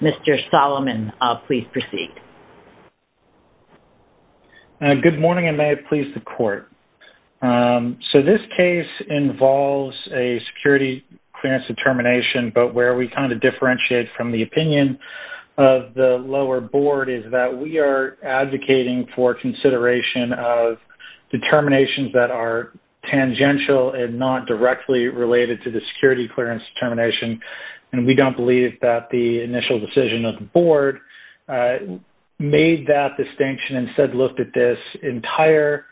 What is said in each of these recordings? Mr. Solomon, please proceed. Good morning, and may it please the Court. So this case involves a security clearance determination, but where we kind of differentiate from the opinion of the lower board is that we are advocating for consideration of determinations that are tangential and not directly related to the security clearance determination. And we don't believe that the initial decision of the board made that distinction and said look at this entire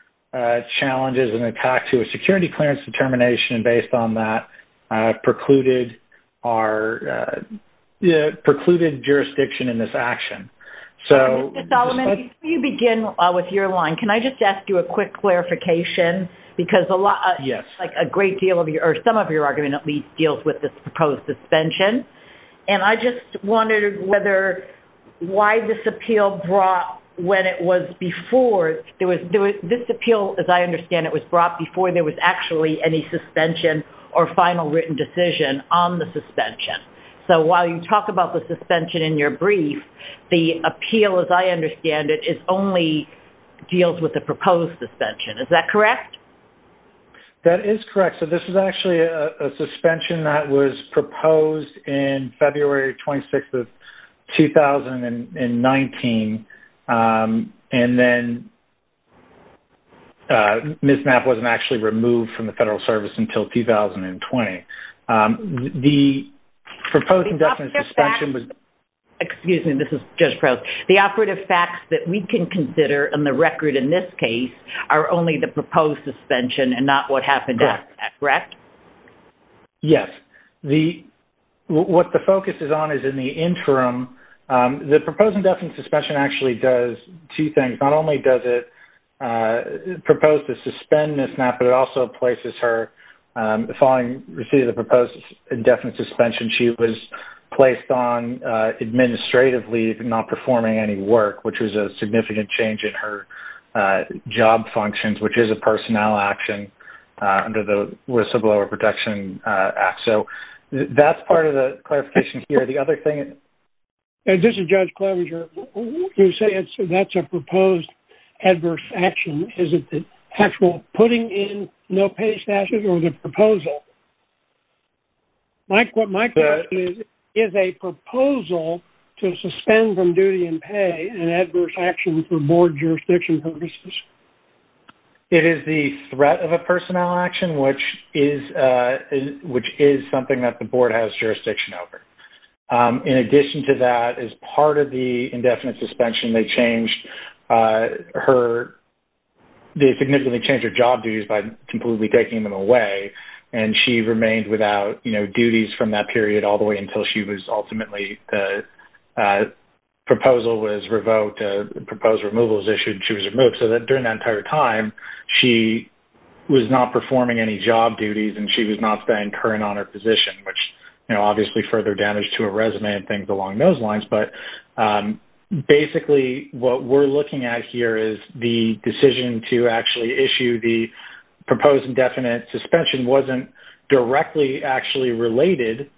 challenge as an attack to a security clearance determination based on that precluded jurisdiction in this action. Mr. Solomon, before you begin with your line, can I just ask you a quick clarification? Yes. Because a lot, like a great deal of your, or some of your argument at least, deals with this proposed suspension. And I just wondered whether, why this appeal brought when it was before, this appeal, as I understand it, was brought before there was actually any suspension or final written decision on the suspension. So while you talk about the suspension in your brief, the appeal, as I understand it, only deals with the proposed suspension. Is that correct? That is correct. So this is actually a suspension that was proposed in February 26th of 2019, and then Ms. Knapp wasn't actually removed from the Federal Service until 2020. The proposed indefinite suspension was... Excuse me, this is Judge Probst. The operative facts that we can consider in the record in this case are only the proposed suspension and not what happened after that, correct? Correct. Yes. What the focus is on is in the interim. The proposed indefinite suspension actually does two things. Not only does it propose to suspend Ms. Knapp, but it also places her... That's part of the clarification here. The other thing... This is Judge Klobuchar. You say that's a proposed adverse action. Is it the actual putting in no-pay statutes or the proposal? What my question is, is a proposal to suspend from duty and pay an adverse action for board jurisdiction purposes? It is the threat of a personnel action, which is something that the board has jurisdiction over. In addition to that, as part of the indefinite suspension, they significantly changed her job duties by completely taking them away. She remained without duties from that period all the way until she was ultimately... The proposal was revoked. The proposed removal was issued and she was removed. During that entire time, she was not performing any job duties and she was not staying current on her position, which obviously further damaged her resume and things along those lines. Basically, what we're looking at here is the decision to actually issue the proposed indefinite suspension wasn't directly actually related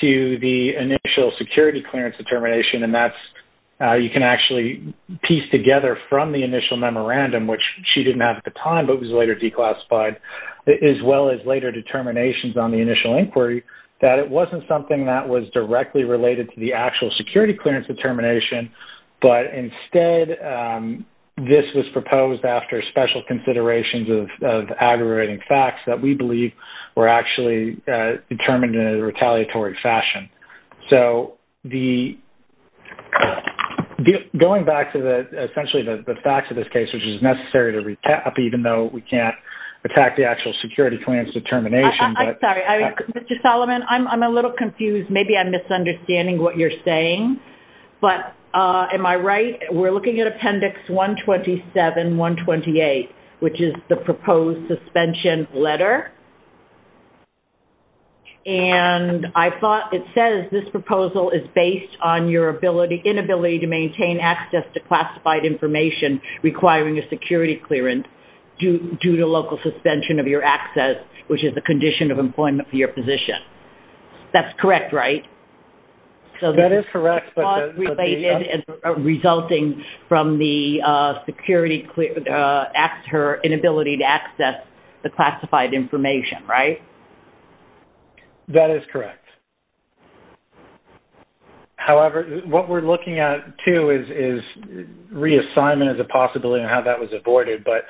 to the initial security clearance determination. You can actually piece together from the initial memorandum, which she didn't have at the time but was later declassified, as well as later determinations on the initial inquiry, that it wasn't something that was directly related to the actual security clearance determination. Instead, this was proposed after special considerations of aggravating facts that we believe were actually determined in a retaliatory fashion. Going back to essentially the facts of this case, which is necessary to recap, even though we can't attack the actual security clearance determination... Sorry, Mr. Solomon, I'm a little confused. Maybe I'm misunderstanding what you're saying, but am I right? We're looking at Appendix 127-128, which is the proposed suspension letter. I thought it says this proposal is based on your inability to maintain access to classified information requiring a security clearance due to local suspension of your access, which is the condition of employment for your position. That's correct, right? That is correct. ...resulting from the inability to access the classified information, right? That is correct. However, what we're looking at, too, is reassignment as a possibility and how that was avoided. But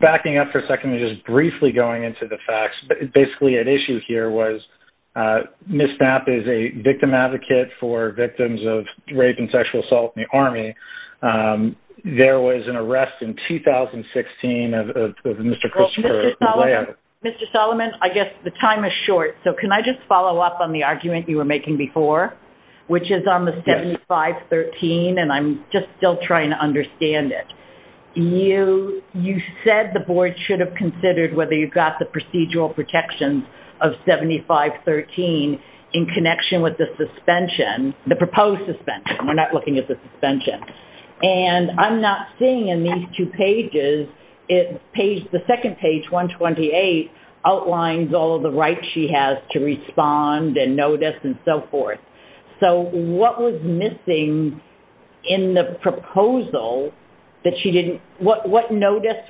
backing up for a second and just briefly going into the facts, basically at issue here was Ms. Knapp is a victim advocate for victims of rape and sexual assault in the Army. There was an arrest in 2016 of Mr. Christopher Lea. Mr. Solomon, I guess the time is short, so can I just follow up on the argument you were making before, which is on the 7513, and I'm just still trying to understand it. You said the board should have considered whether you got the procedural protections of 7513 in connection with the suspension, the proposed suspension. We're not looking at the suspension. And I'm not seeing in these two pages, the second page, 128, outlines all of the rights she has to respond and notice and so forth. So what was missing in the proposal that she didn't, what notice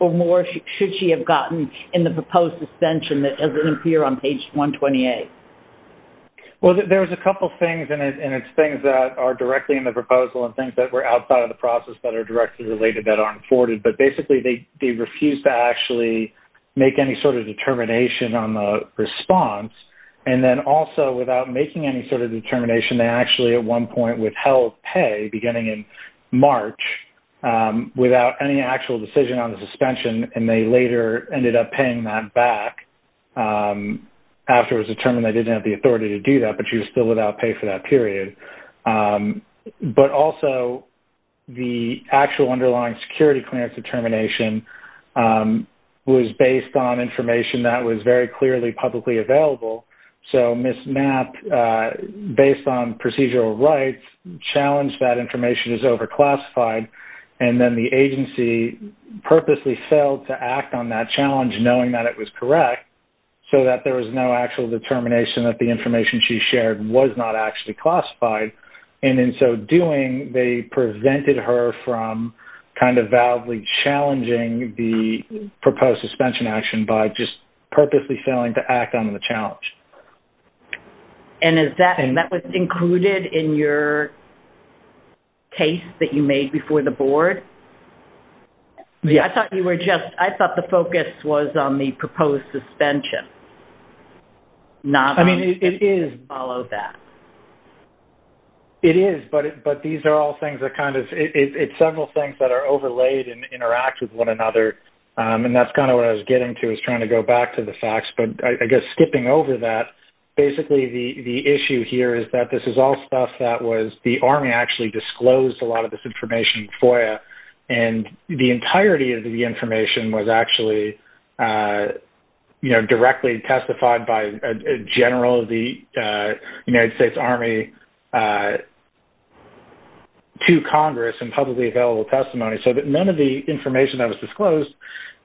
or more should she have gotten in the proposed suspension that doesn't appear on page 128? Well, there's a couple things, and it's things that are directly in the proposal and things that were outside of the process that are directly related that aren't afforded. But basically, they refused to actually make any sort of determination on the response. And then also, without making any sort of determination, they actually at one point withheld pay beginning in March without any actual decision on the suspension. And they later ended up paying that back after it was determined they didn't have the authority to do that, but she was still without pay for that period. But also, the actual underlying security clearance determination was based on information that was very clearly publicly available. So Ms. Knapp, based on procedural rights, challenged that information is overclassified. And then the agency purposely failed to act on that challenge knowing that it was correct so that there was no actual determination that the information she shared was not actually classified. And in so doing, they prevented her from kind of validly challenging the proposed suspension action by just purposely failing to act on the challenge. And that was included in your case that you made before the board? Yes. I thought you were just-I thought the focus was on the proposed suspension. I mean, it is. Not on the decision to follow that. It is, but these are all things that kind of-it's several things that are overlaid and interact with one another, and that's kind of what I was getting to was trying to go back to the facts. But I guess skipping over that, basically the issue here is that this is all stuff that was-the Army actually disclosed a lot of this information in FOIA. And the entirety of the information was actually, you know, directly testified by a general of the United States Army to Congress in publicly available testimony. So that none of the information that was disclosed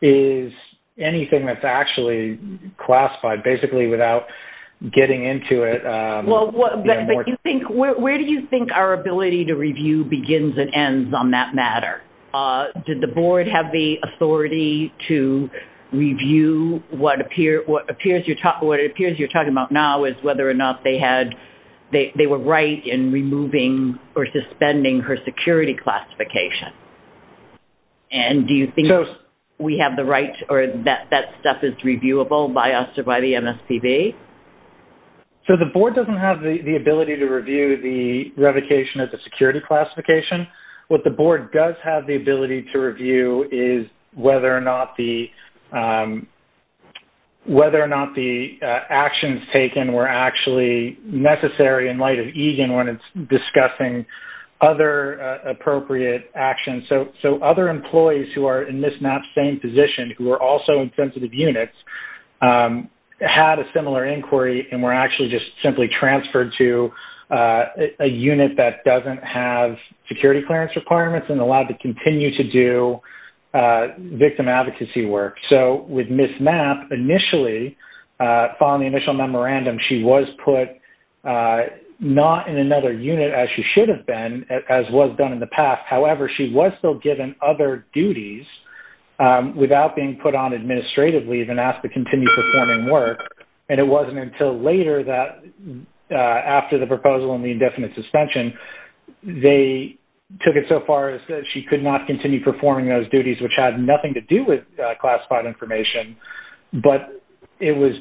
is anything that's actually classified, basically without getting into it. Well, where do you think our ability to review begins and ends on that matter? Did the board have the authority to review what it appears you're talking about now is whether or not they were right in removing or suspending her security classification? And do you think we have the right-or that stuff is reviewable by us or by the MSPB? So the board doesn't have the ability to review the revocation of the security classification. What the board does have the ability to review is whether or not the actions taken were actually necessary in light of EGAN when it's discussing other appropriate actions. So other employees who are in Ms. Mapp's same position, who are also in sensitive units, had a similar inquiry and were actually just simply transferred to a unit that doesn't have security clearance requirements and allowed to continue to do victim advocacy work. So with Ms. Mapp, initially, following the initial memorandum, she was put not in another unit as she should have been, as was done in the past. However, she was still given other duties without being put on administrative leave and asked to continue performing work. And it wasn't until later that, after the proposal and the indefinite suspension, they took it so far as that she could not continue performing those duties, which had nothing to do with classified information. But it was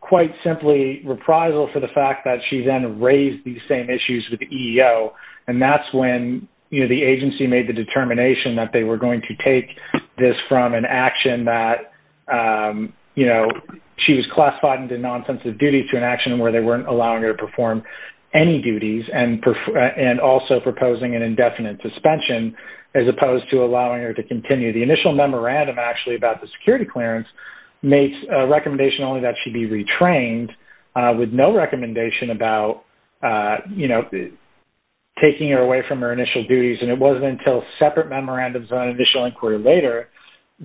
quite simply reprisal for the fact that she then raised these same issues with the EEO. And that's when, you know, the agency made the determination that they were going to take this from an action that, you know, she was classified into non-sensitive duty to an action where they weren't allowing her to perform any duties and also proposing an indefinite suspension, as opposed to allowing her to continue. The initial memorandum actually about the security clearance makes a recommendation only that she be retrained with no recommendation about, you know, taking her away from her initial duties. And it wasn't until separate memorandums on additional inquiry later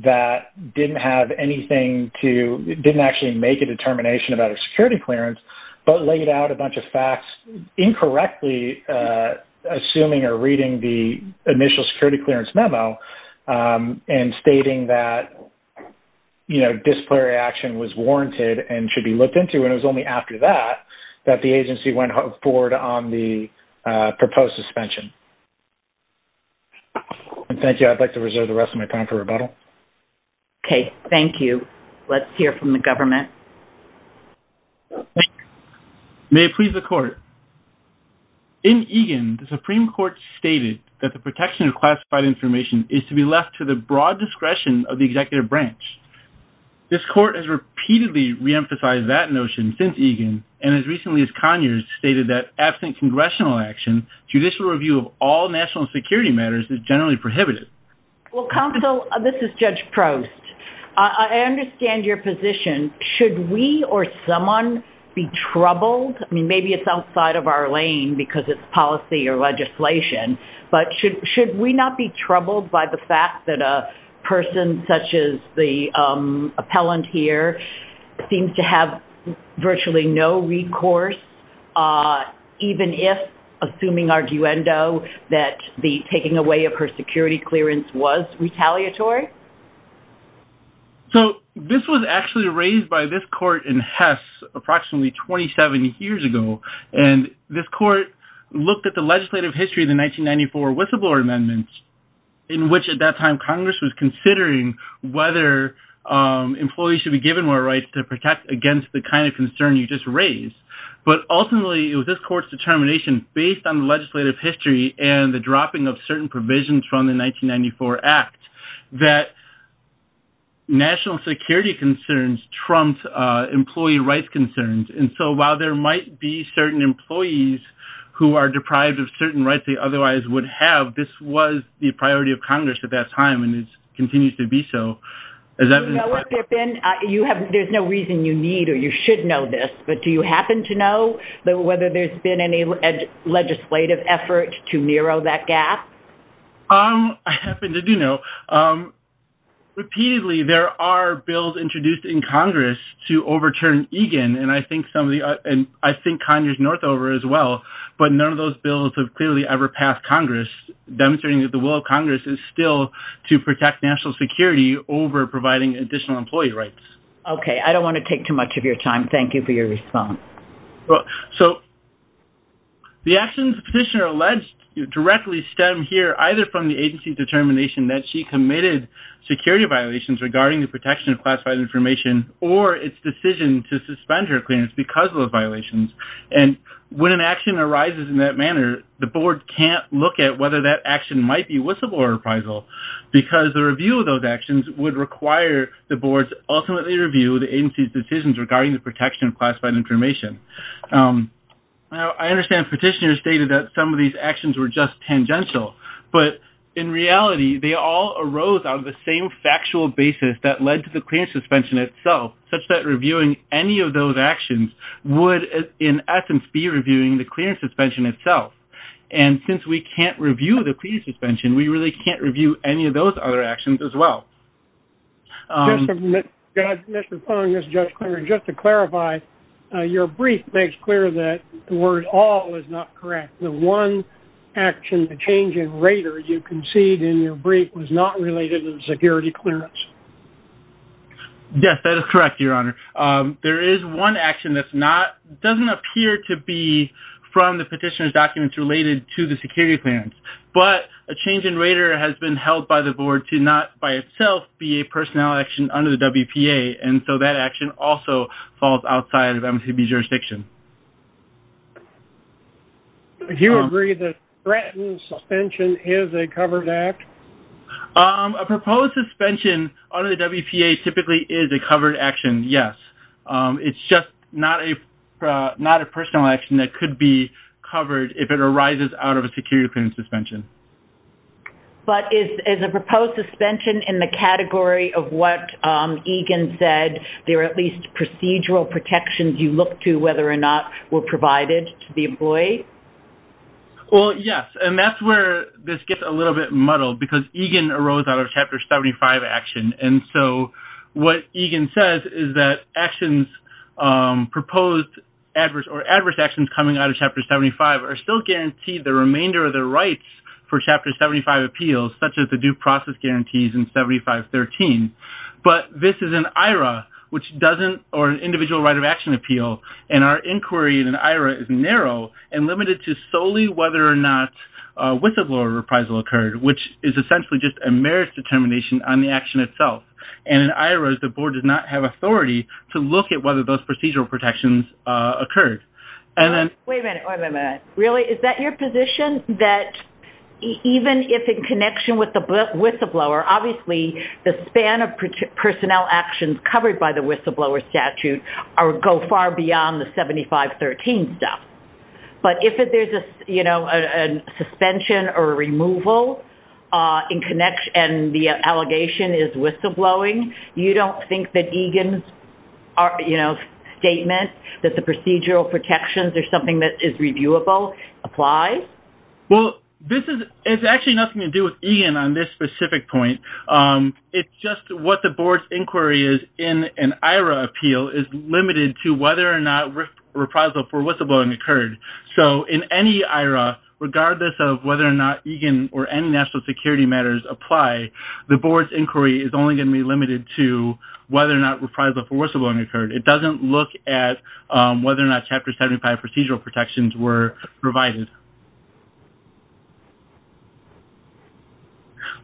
that didn't have anything to, didn't actually make a determination about her security clearance, but laid out a bunch of facts incorrectly assuming or reading the initial security clearance memo and stating that, you know, disciplinary action was warranted and should be looked into. And it was only after that that the agency went forward on the proposed suspension. And thank you. I'd like to reserve the rest of my time for rebuttal. Okay. Thank you. Let's hear from the government. May it please the court. In EGAN, the Supreme Court stated that the protection of classified information is to be left to the broad discretion of the executive branch. This court has repeatedly reemphasized that notion since EGAN, and as recently as Conyers, stated that absent congressional action, judicial review of all national security matters is generally prohibited. Well, counsel, this is Judge Prost. I understand your position. Should we or someone be troubled? I mean, maybe it's outside of our lane because it's policy or legislation. But should we not be troubled by the fact that a person such as the appellant here seems to have virtually no recourse, even if, assuming arguendo, that the taking away of her security clearance was retaliatory? So this was actually raised by this court in Hess approximately 27 years ago. And this court looked at the legislative history of the 1994 whistleblower amendment, in which at that time Congress was considering whether employees should be given more rights to protect against the kind of concern you just raised. But ultimately, it was this court's determination, based on the legislative history and the dropping of certain provisions from the 1994 act, that national security concerns trumped employee rights concerns. And so while there might be certain employees who are deprived of certain rights they otherwise would have, this was the priority of Congress at that time and continues to be so. There's no reason you need or you should know this, but do you happen to know whether there's been any legislative effort to narrow that gap? I happen to do know. Repeatedly, there are bills introduced in Congress to overturn Egan, and I think Conyers-Northover as well, but none of those bills have clearly ever passed Congress, demonstrating that the will of Congress is still to protect national security over providing additional employee rights. Okay, I don't want to take too much of your time. Thank you for your response. So the actions the petitioner alleged directly stem here either from the agency's determination that she committed security violations regarding the protection of classified information or its decision to suspend her clearance because of those violations. And when an action arises in that manner, the board can't look at whether that action might be whistleblower reprisal because the review of those actions would require the boards ultimately review the agency's decisions regarding the protection of classified information. I understand petitioners stated that some of these actions were just tangential, but in reality, they all arose out of the same factual basis that led to the clearance suspension itself, such that reviewing any of those actions would in essence be reviewing the clearance suspension itself. And since we can't review the clearance suspension, we really can't review any of those other actions as well. Just to clarify, your brief makes clear that the word all is not correct. The one action, the change in rater you concede in your brief was not related to the security clearance. Yes, that is correct, Your Honor. There is one action that doesn't appear to be from the petitioner's documents related to the security clearance, but a change in rater has been held by the board to not by itself be a personnel action under the WPA. And so that action also falls outside of MCB jurisdiction. Do you agree that threatened suspension is a covered act? A proposed suspension under the WPA typically is a covered action, yes. It's just not a personnel action that could be covered if it arises out of a security clearance suspension. But is a proposed suspension in the category of what Egan said, there are at least procedural protections you look to whether or not were provided to the employee? Well, yes, and that's where this gets a little bit muddled because Egan arose out of Chapter 75 action. And so what Egan says is that actions proposed adverse or adverse actions coming out of Chapter 75 are still guaranteed the remainder of the rights for Chapter 75 appeals, such as the due process guarantees in 7513. But this is an IRA or an individual right of action appeal, and our inquiry in an IRA is narrow and limited to solely whether or not whistleblower reprisal occurred, which is essentially just a merits determination on the action itself. And in IRAs, the board does not have authority to look at whether those procedural protections occurred. Wait a minute. Wait a minute. Really? Is that your position that even if in connection with the whistleblower, obviously, the span of personnel actions covered by the whistleblower statute go far beyond the 7513 stuff? But if there's a, you know, a suspension or removal in connection and the allegation is whistleblowing, you don't think that Egan's, you know, statement that the procedural protections are something that is reviewable applies? Well, this is, it's actually nothing to do with Egan on this specific point. It's just what the board's inquiry is in an IRA appeal is limited to whether or not reprisal for whistleblowing occurred. So in any IRA, regardless of whether or not Egan or any national security matters apply, the board's inquiry is only going to be limited to whether or not reprisal for whistleblowing occurred. It doesn't look at whether or not Chapter 75 procedural protections were provided.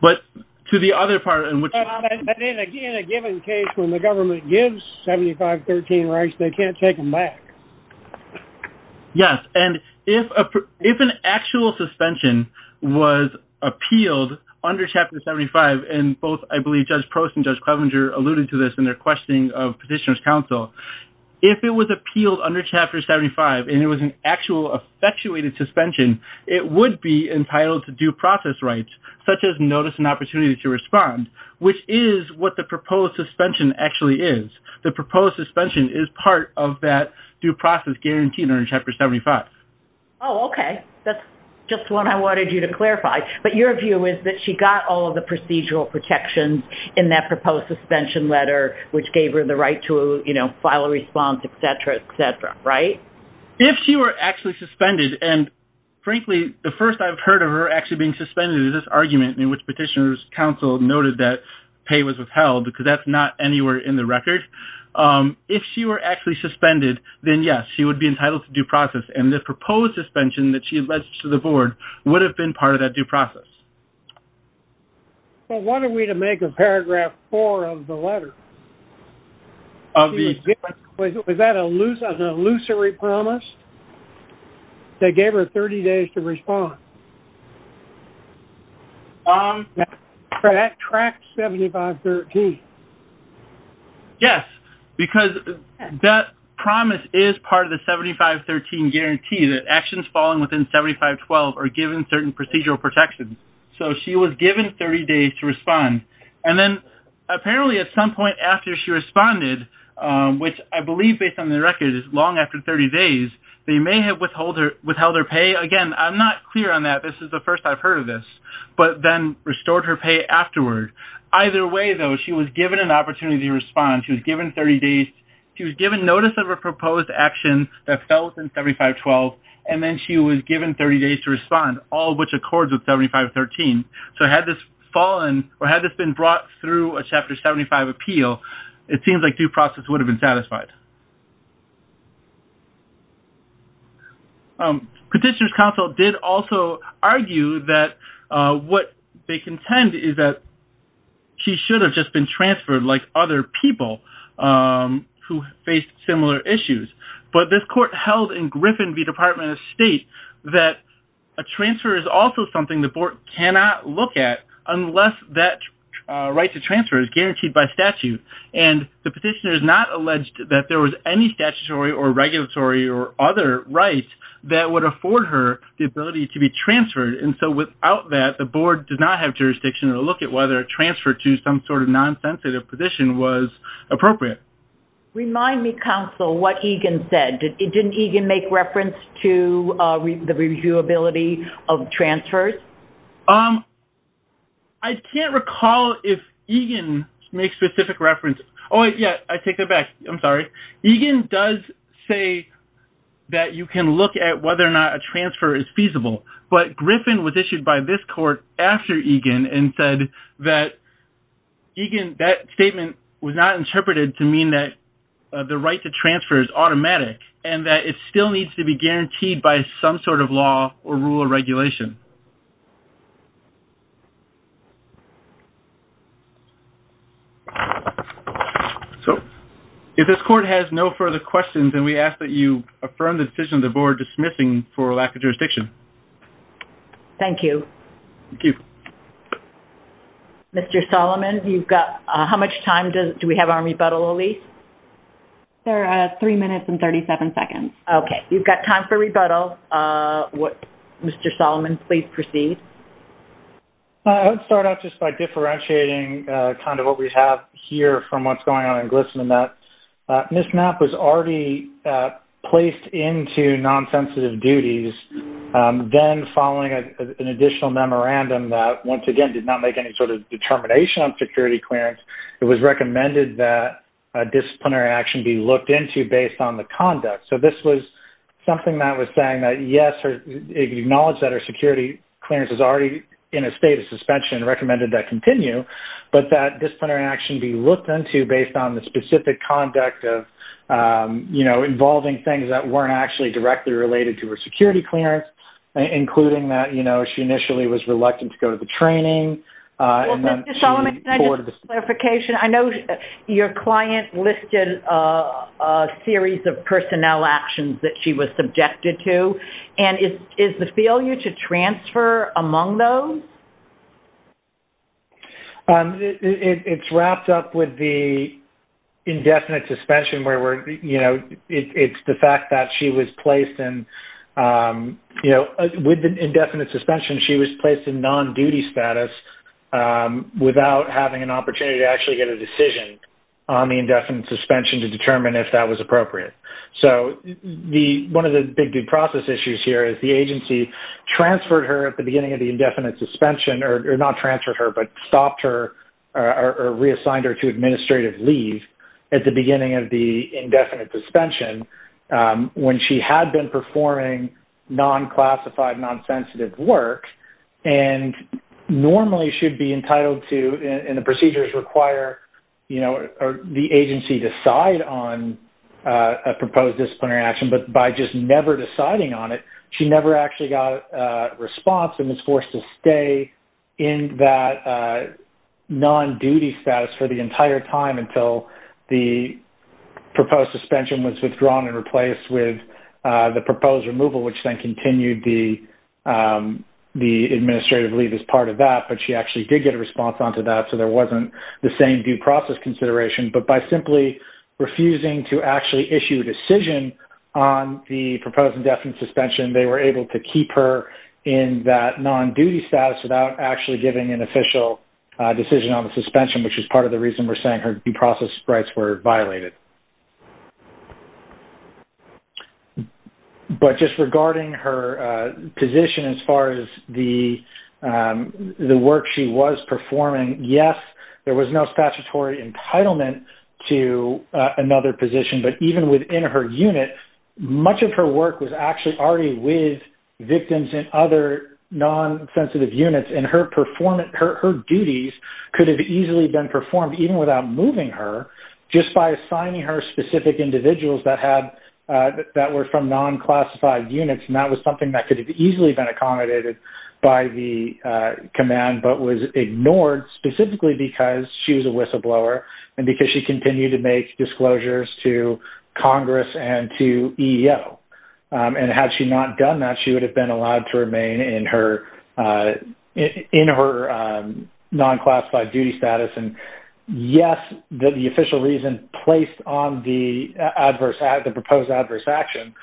But to the other part in which... Again, a given case when the government gives 7513 rights, they can't take them back. Yes. And if an actual suspension was appealed under Chapter 75, and both, I believe, Judge Prost and Judge Clevenger alluded to this in their questioning of Petitioner's Counsel. If it was appealed under Chapter 75 and it was an actual effectuated suspension, it would be entitled to due process rights, such as notice and opportunity to respond, which is what the proposed suspension actually is. The proposed suspension is part of that due process guarantee under Chapter 75. Oh, okay. That's just what I wanted you to clarify. But your view is that she got all of the procedural protections in that proposed suspension letter, which gave her the right to file a response, et cetera, et cetera, right? If she were actually suspended, and frankly, the first I've heard of her actually being suspended is this argument in which Petitioner's Counsel noted that pay was withheld, because that's not anywhere in the record. If she were actually suspended, then yes, she would be entitled to due process. And the proposed suspension that she alleged to the board would have been part of that due process. Well, what are we to make of paragraph 4 of the letter? Was that an illusory promise that gave her 30 days to respond? That tracks 7513. Yes, because that promise is part of the 7513 guarantee that actions falling within 7512 are given certain procedural protections. So she was given 30 days to respond. And then apparently at some point after she responded, which I believe based on the record is long after 30 days, they may have withheld her pay. Again, I'm not clear on that. This is the first I've heard of this. But then restored her pay afterward. Either way, though, she was given an opportunity to respond. She was given 30 days. She was given notice of a proposed action that fell within 7512. And then she was given 30 days to respond, all of which accords with 7513. So had this fallen or had this been brought through a Chapter 75 appeal, it seems like due process would have been satisfied. Petitioner's counsel did also argue that what they contend is that she should have just been transferred like other people who faced similar issues. But this court held in Griffin v. Department of State that a transfer is also something the board cannot look at unless that right to transfer is guaranteed by statute. And the petitioner is not alleged that there was any statutory or regulatory or other rights that would afford her the ability to be transferred. And so without that, the board does not have jurisdiction to look at whether a transfer to some sort of nonsensitive position was appropriate. Remind me, counsel, what Egan said. Didn't Egan make reference to the reviewability of transfers? I can't recall if Egan makes specific reference. Oh, yeah, I take that back. I'm sorry. Egan does say that you can look at whether or not a transfer is feasible. But Griffin was issued by this court after Egan and said that Egan, that statement was not interpreted to mean that the right to transfer is automatic and that it still needs to be guaranteed by some sort of law or rule or regulation. If this court has no further questions, then we ask that you affirm the decision of the board dismissing for lack of jurisdiction. Thank you. Thank you. Mr. Solomon, you've got how much time do we have on rebuttal, Elise? There are three minutes and 37 seconds. Okay. You've got time for rebuttal. Mr. Solomon, please proceed. I would start out just by differentiating kind of what we have here from what's going on in GLSEN in that this map was already placed into nonsensitive duties. Then following an additional memorandum that, once again, did not make any sort of determination on security clearance, it was recommended that disciplinary action be looked into based on the conduct. So this was something that was saying that, yes, it acknowledged that her security clearance was already in a state of suspension and recommended that continue, but that disciplinary action be looked into based on the specific conduct of, you know, involving things that weren't actually directly related to her security clearance, including that, you know, she initially was reluctant to go to the training. Well, Mr. Solomon, can I just ask a clarification? I know your client listed a series of personnel actions that she was subjected to, and is the failure to transfer among those? It's wrapped up with the indefinite suspension where, you know, it's the fact that she was placed in, you know, with the indefinite suspension, she was placed in non-duty status without having an opportunity to actually get a decision on the indefinite suspension to determine if that was appropriate. So one of the big due process issues here is the agency transferred her at the beginning of the indefinite suspension, or not transferred her, but stopped her or reassigned her to administrative leave at the beginning of the indefinite suspension when she had been performing non-classified, non-sensitive work and normally should be entitled to, and the procedures require, you know, the agency decide on a proposed disciplinary action, but by just never deciding on it, she never actually got a response and was forced to stay in that non-duty status for the entire time until the proposed suspension was withdrawn and replaced with the proposed removal, which then continued the administrative leave as part of that, but she actually did get a response onto that, so there wasn't the same due process consideration. But by simply refusing to actually issue a decision on the proposed indefinite suspension, they were able to keep her in that non-duty status without actually giving an official decision on the suspension, which is part of the reason we're saying her due process rights were violated. But just regarding her position as far as the work she was performing, yes, there was no statutory entitlement to another position, but even within her unit, much of her work was actually already with victims and other non-sensitive units, and her duties could have easily been performed even without moving her just by assigning her specific individuals that were from non-classified units, and that was something that could have easily been accommodated by the command but was ignored specifically because she was a whistleblower and because she continued to make disclosures to Congress and to EEO, and had she not done that, she would have been allowed to remain in her non-classified duty status, and yes, the official reason placed on the proposed adverse action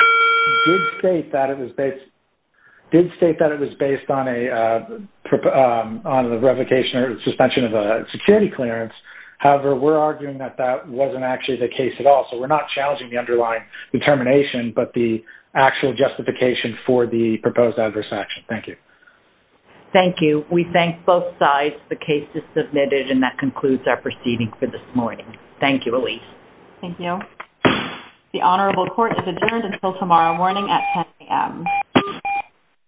did state that it was based on a revocation or suspension of a security clearance. However, we're arguing that that wasn't actually the case at all, so we're not challenging the underlying determination, but the actual justification for the proposed adverse action. Thank you. Thank you. We thank both sides. The case is submitted, and that concludes our proceeding for this morning. Thank you, Elise. Thank you. The Honorable Court is adjourned until tomorrow morning at 10 a.m.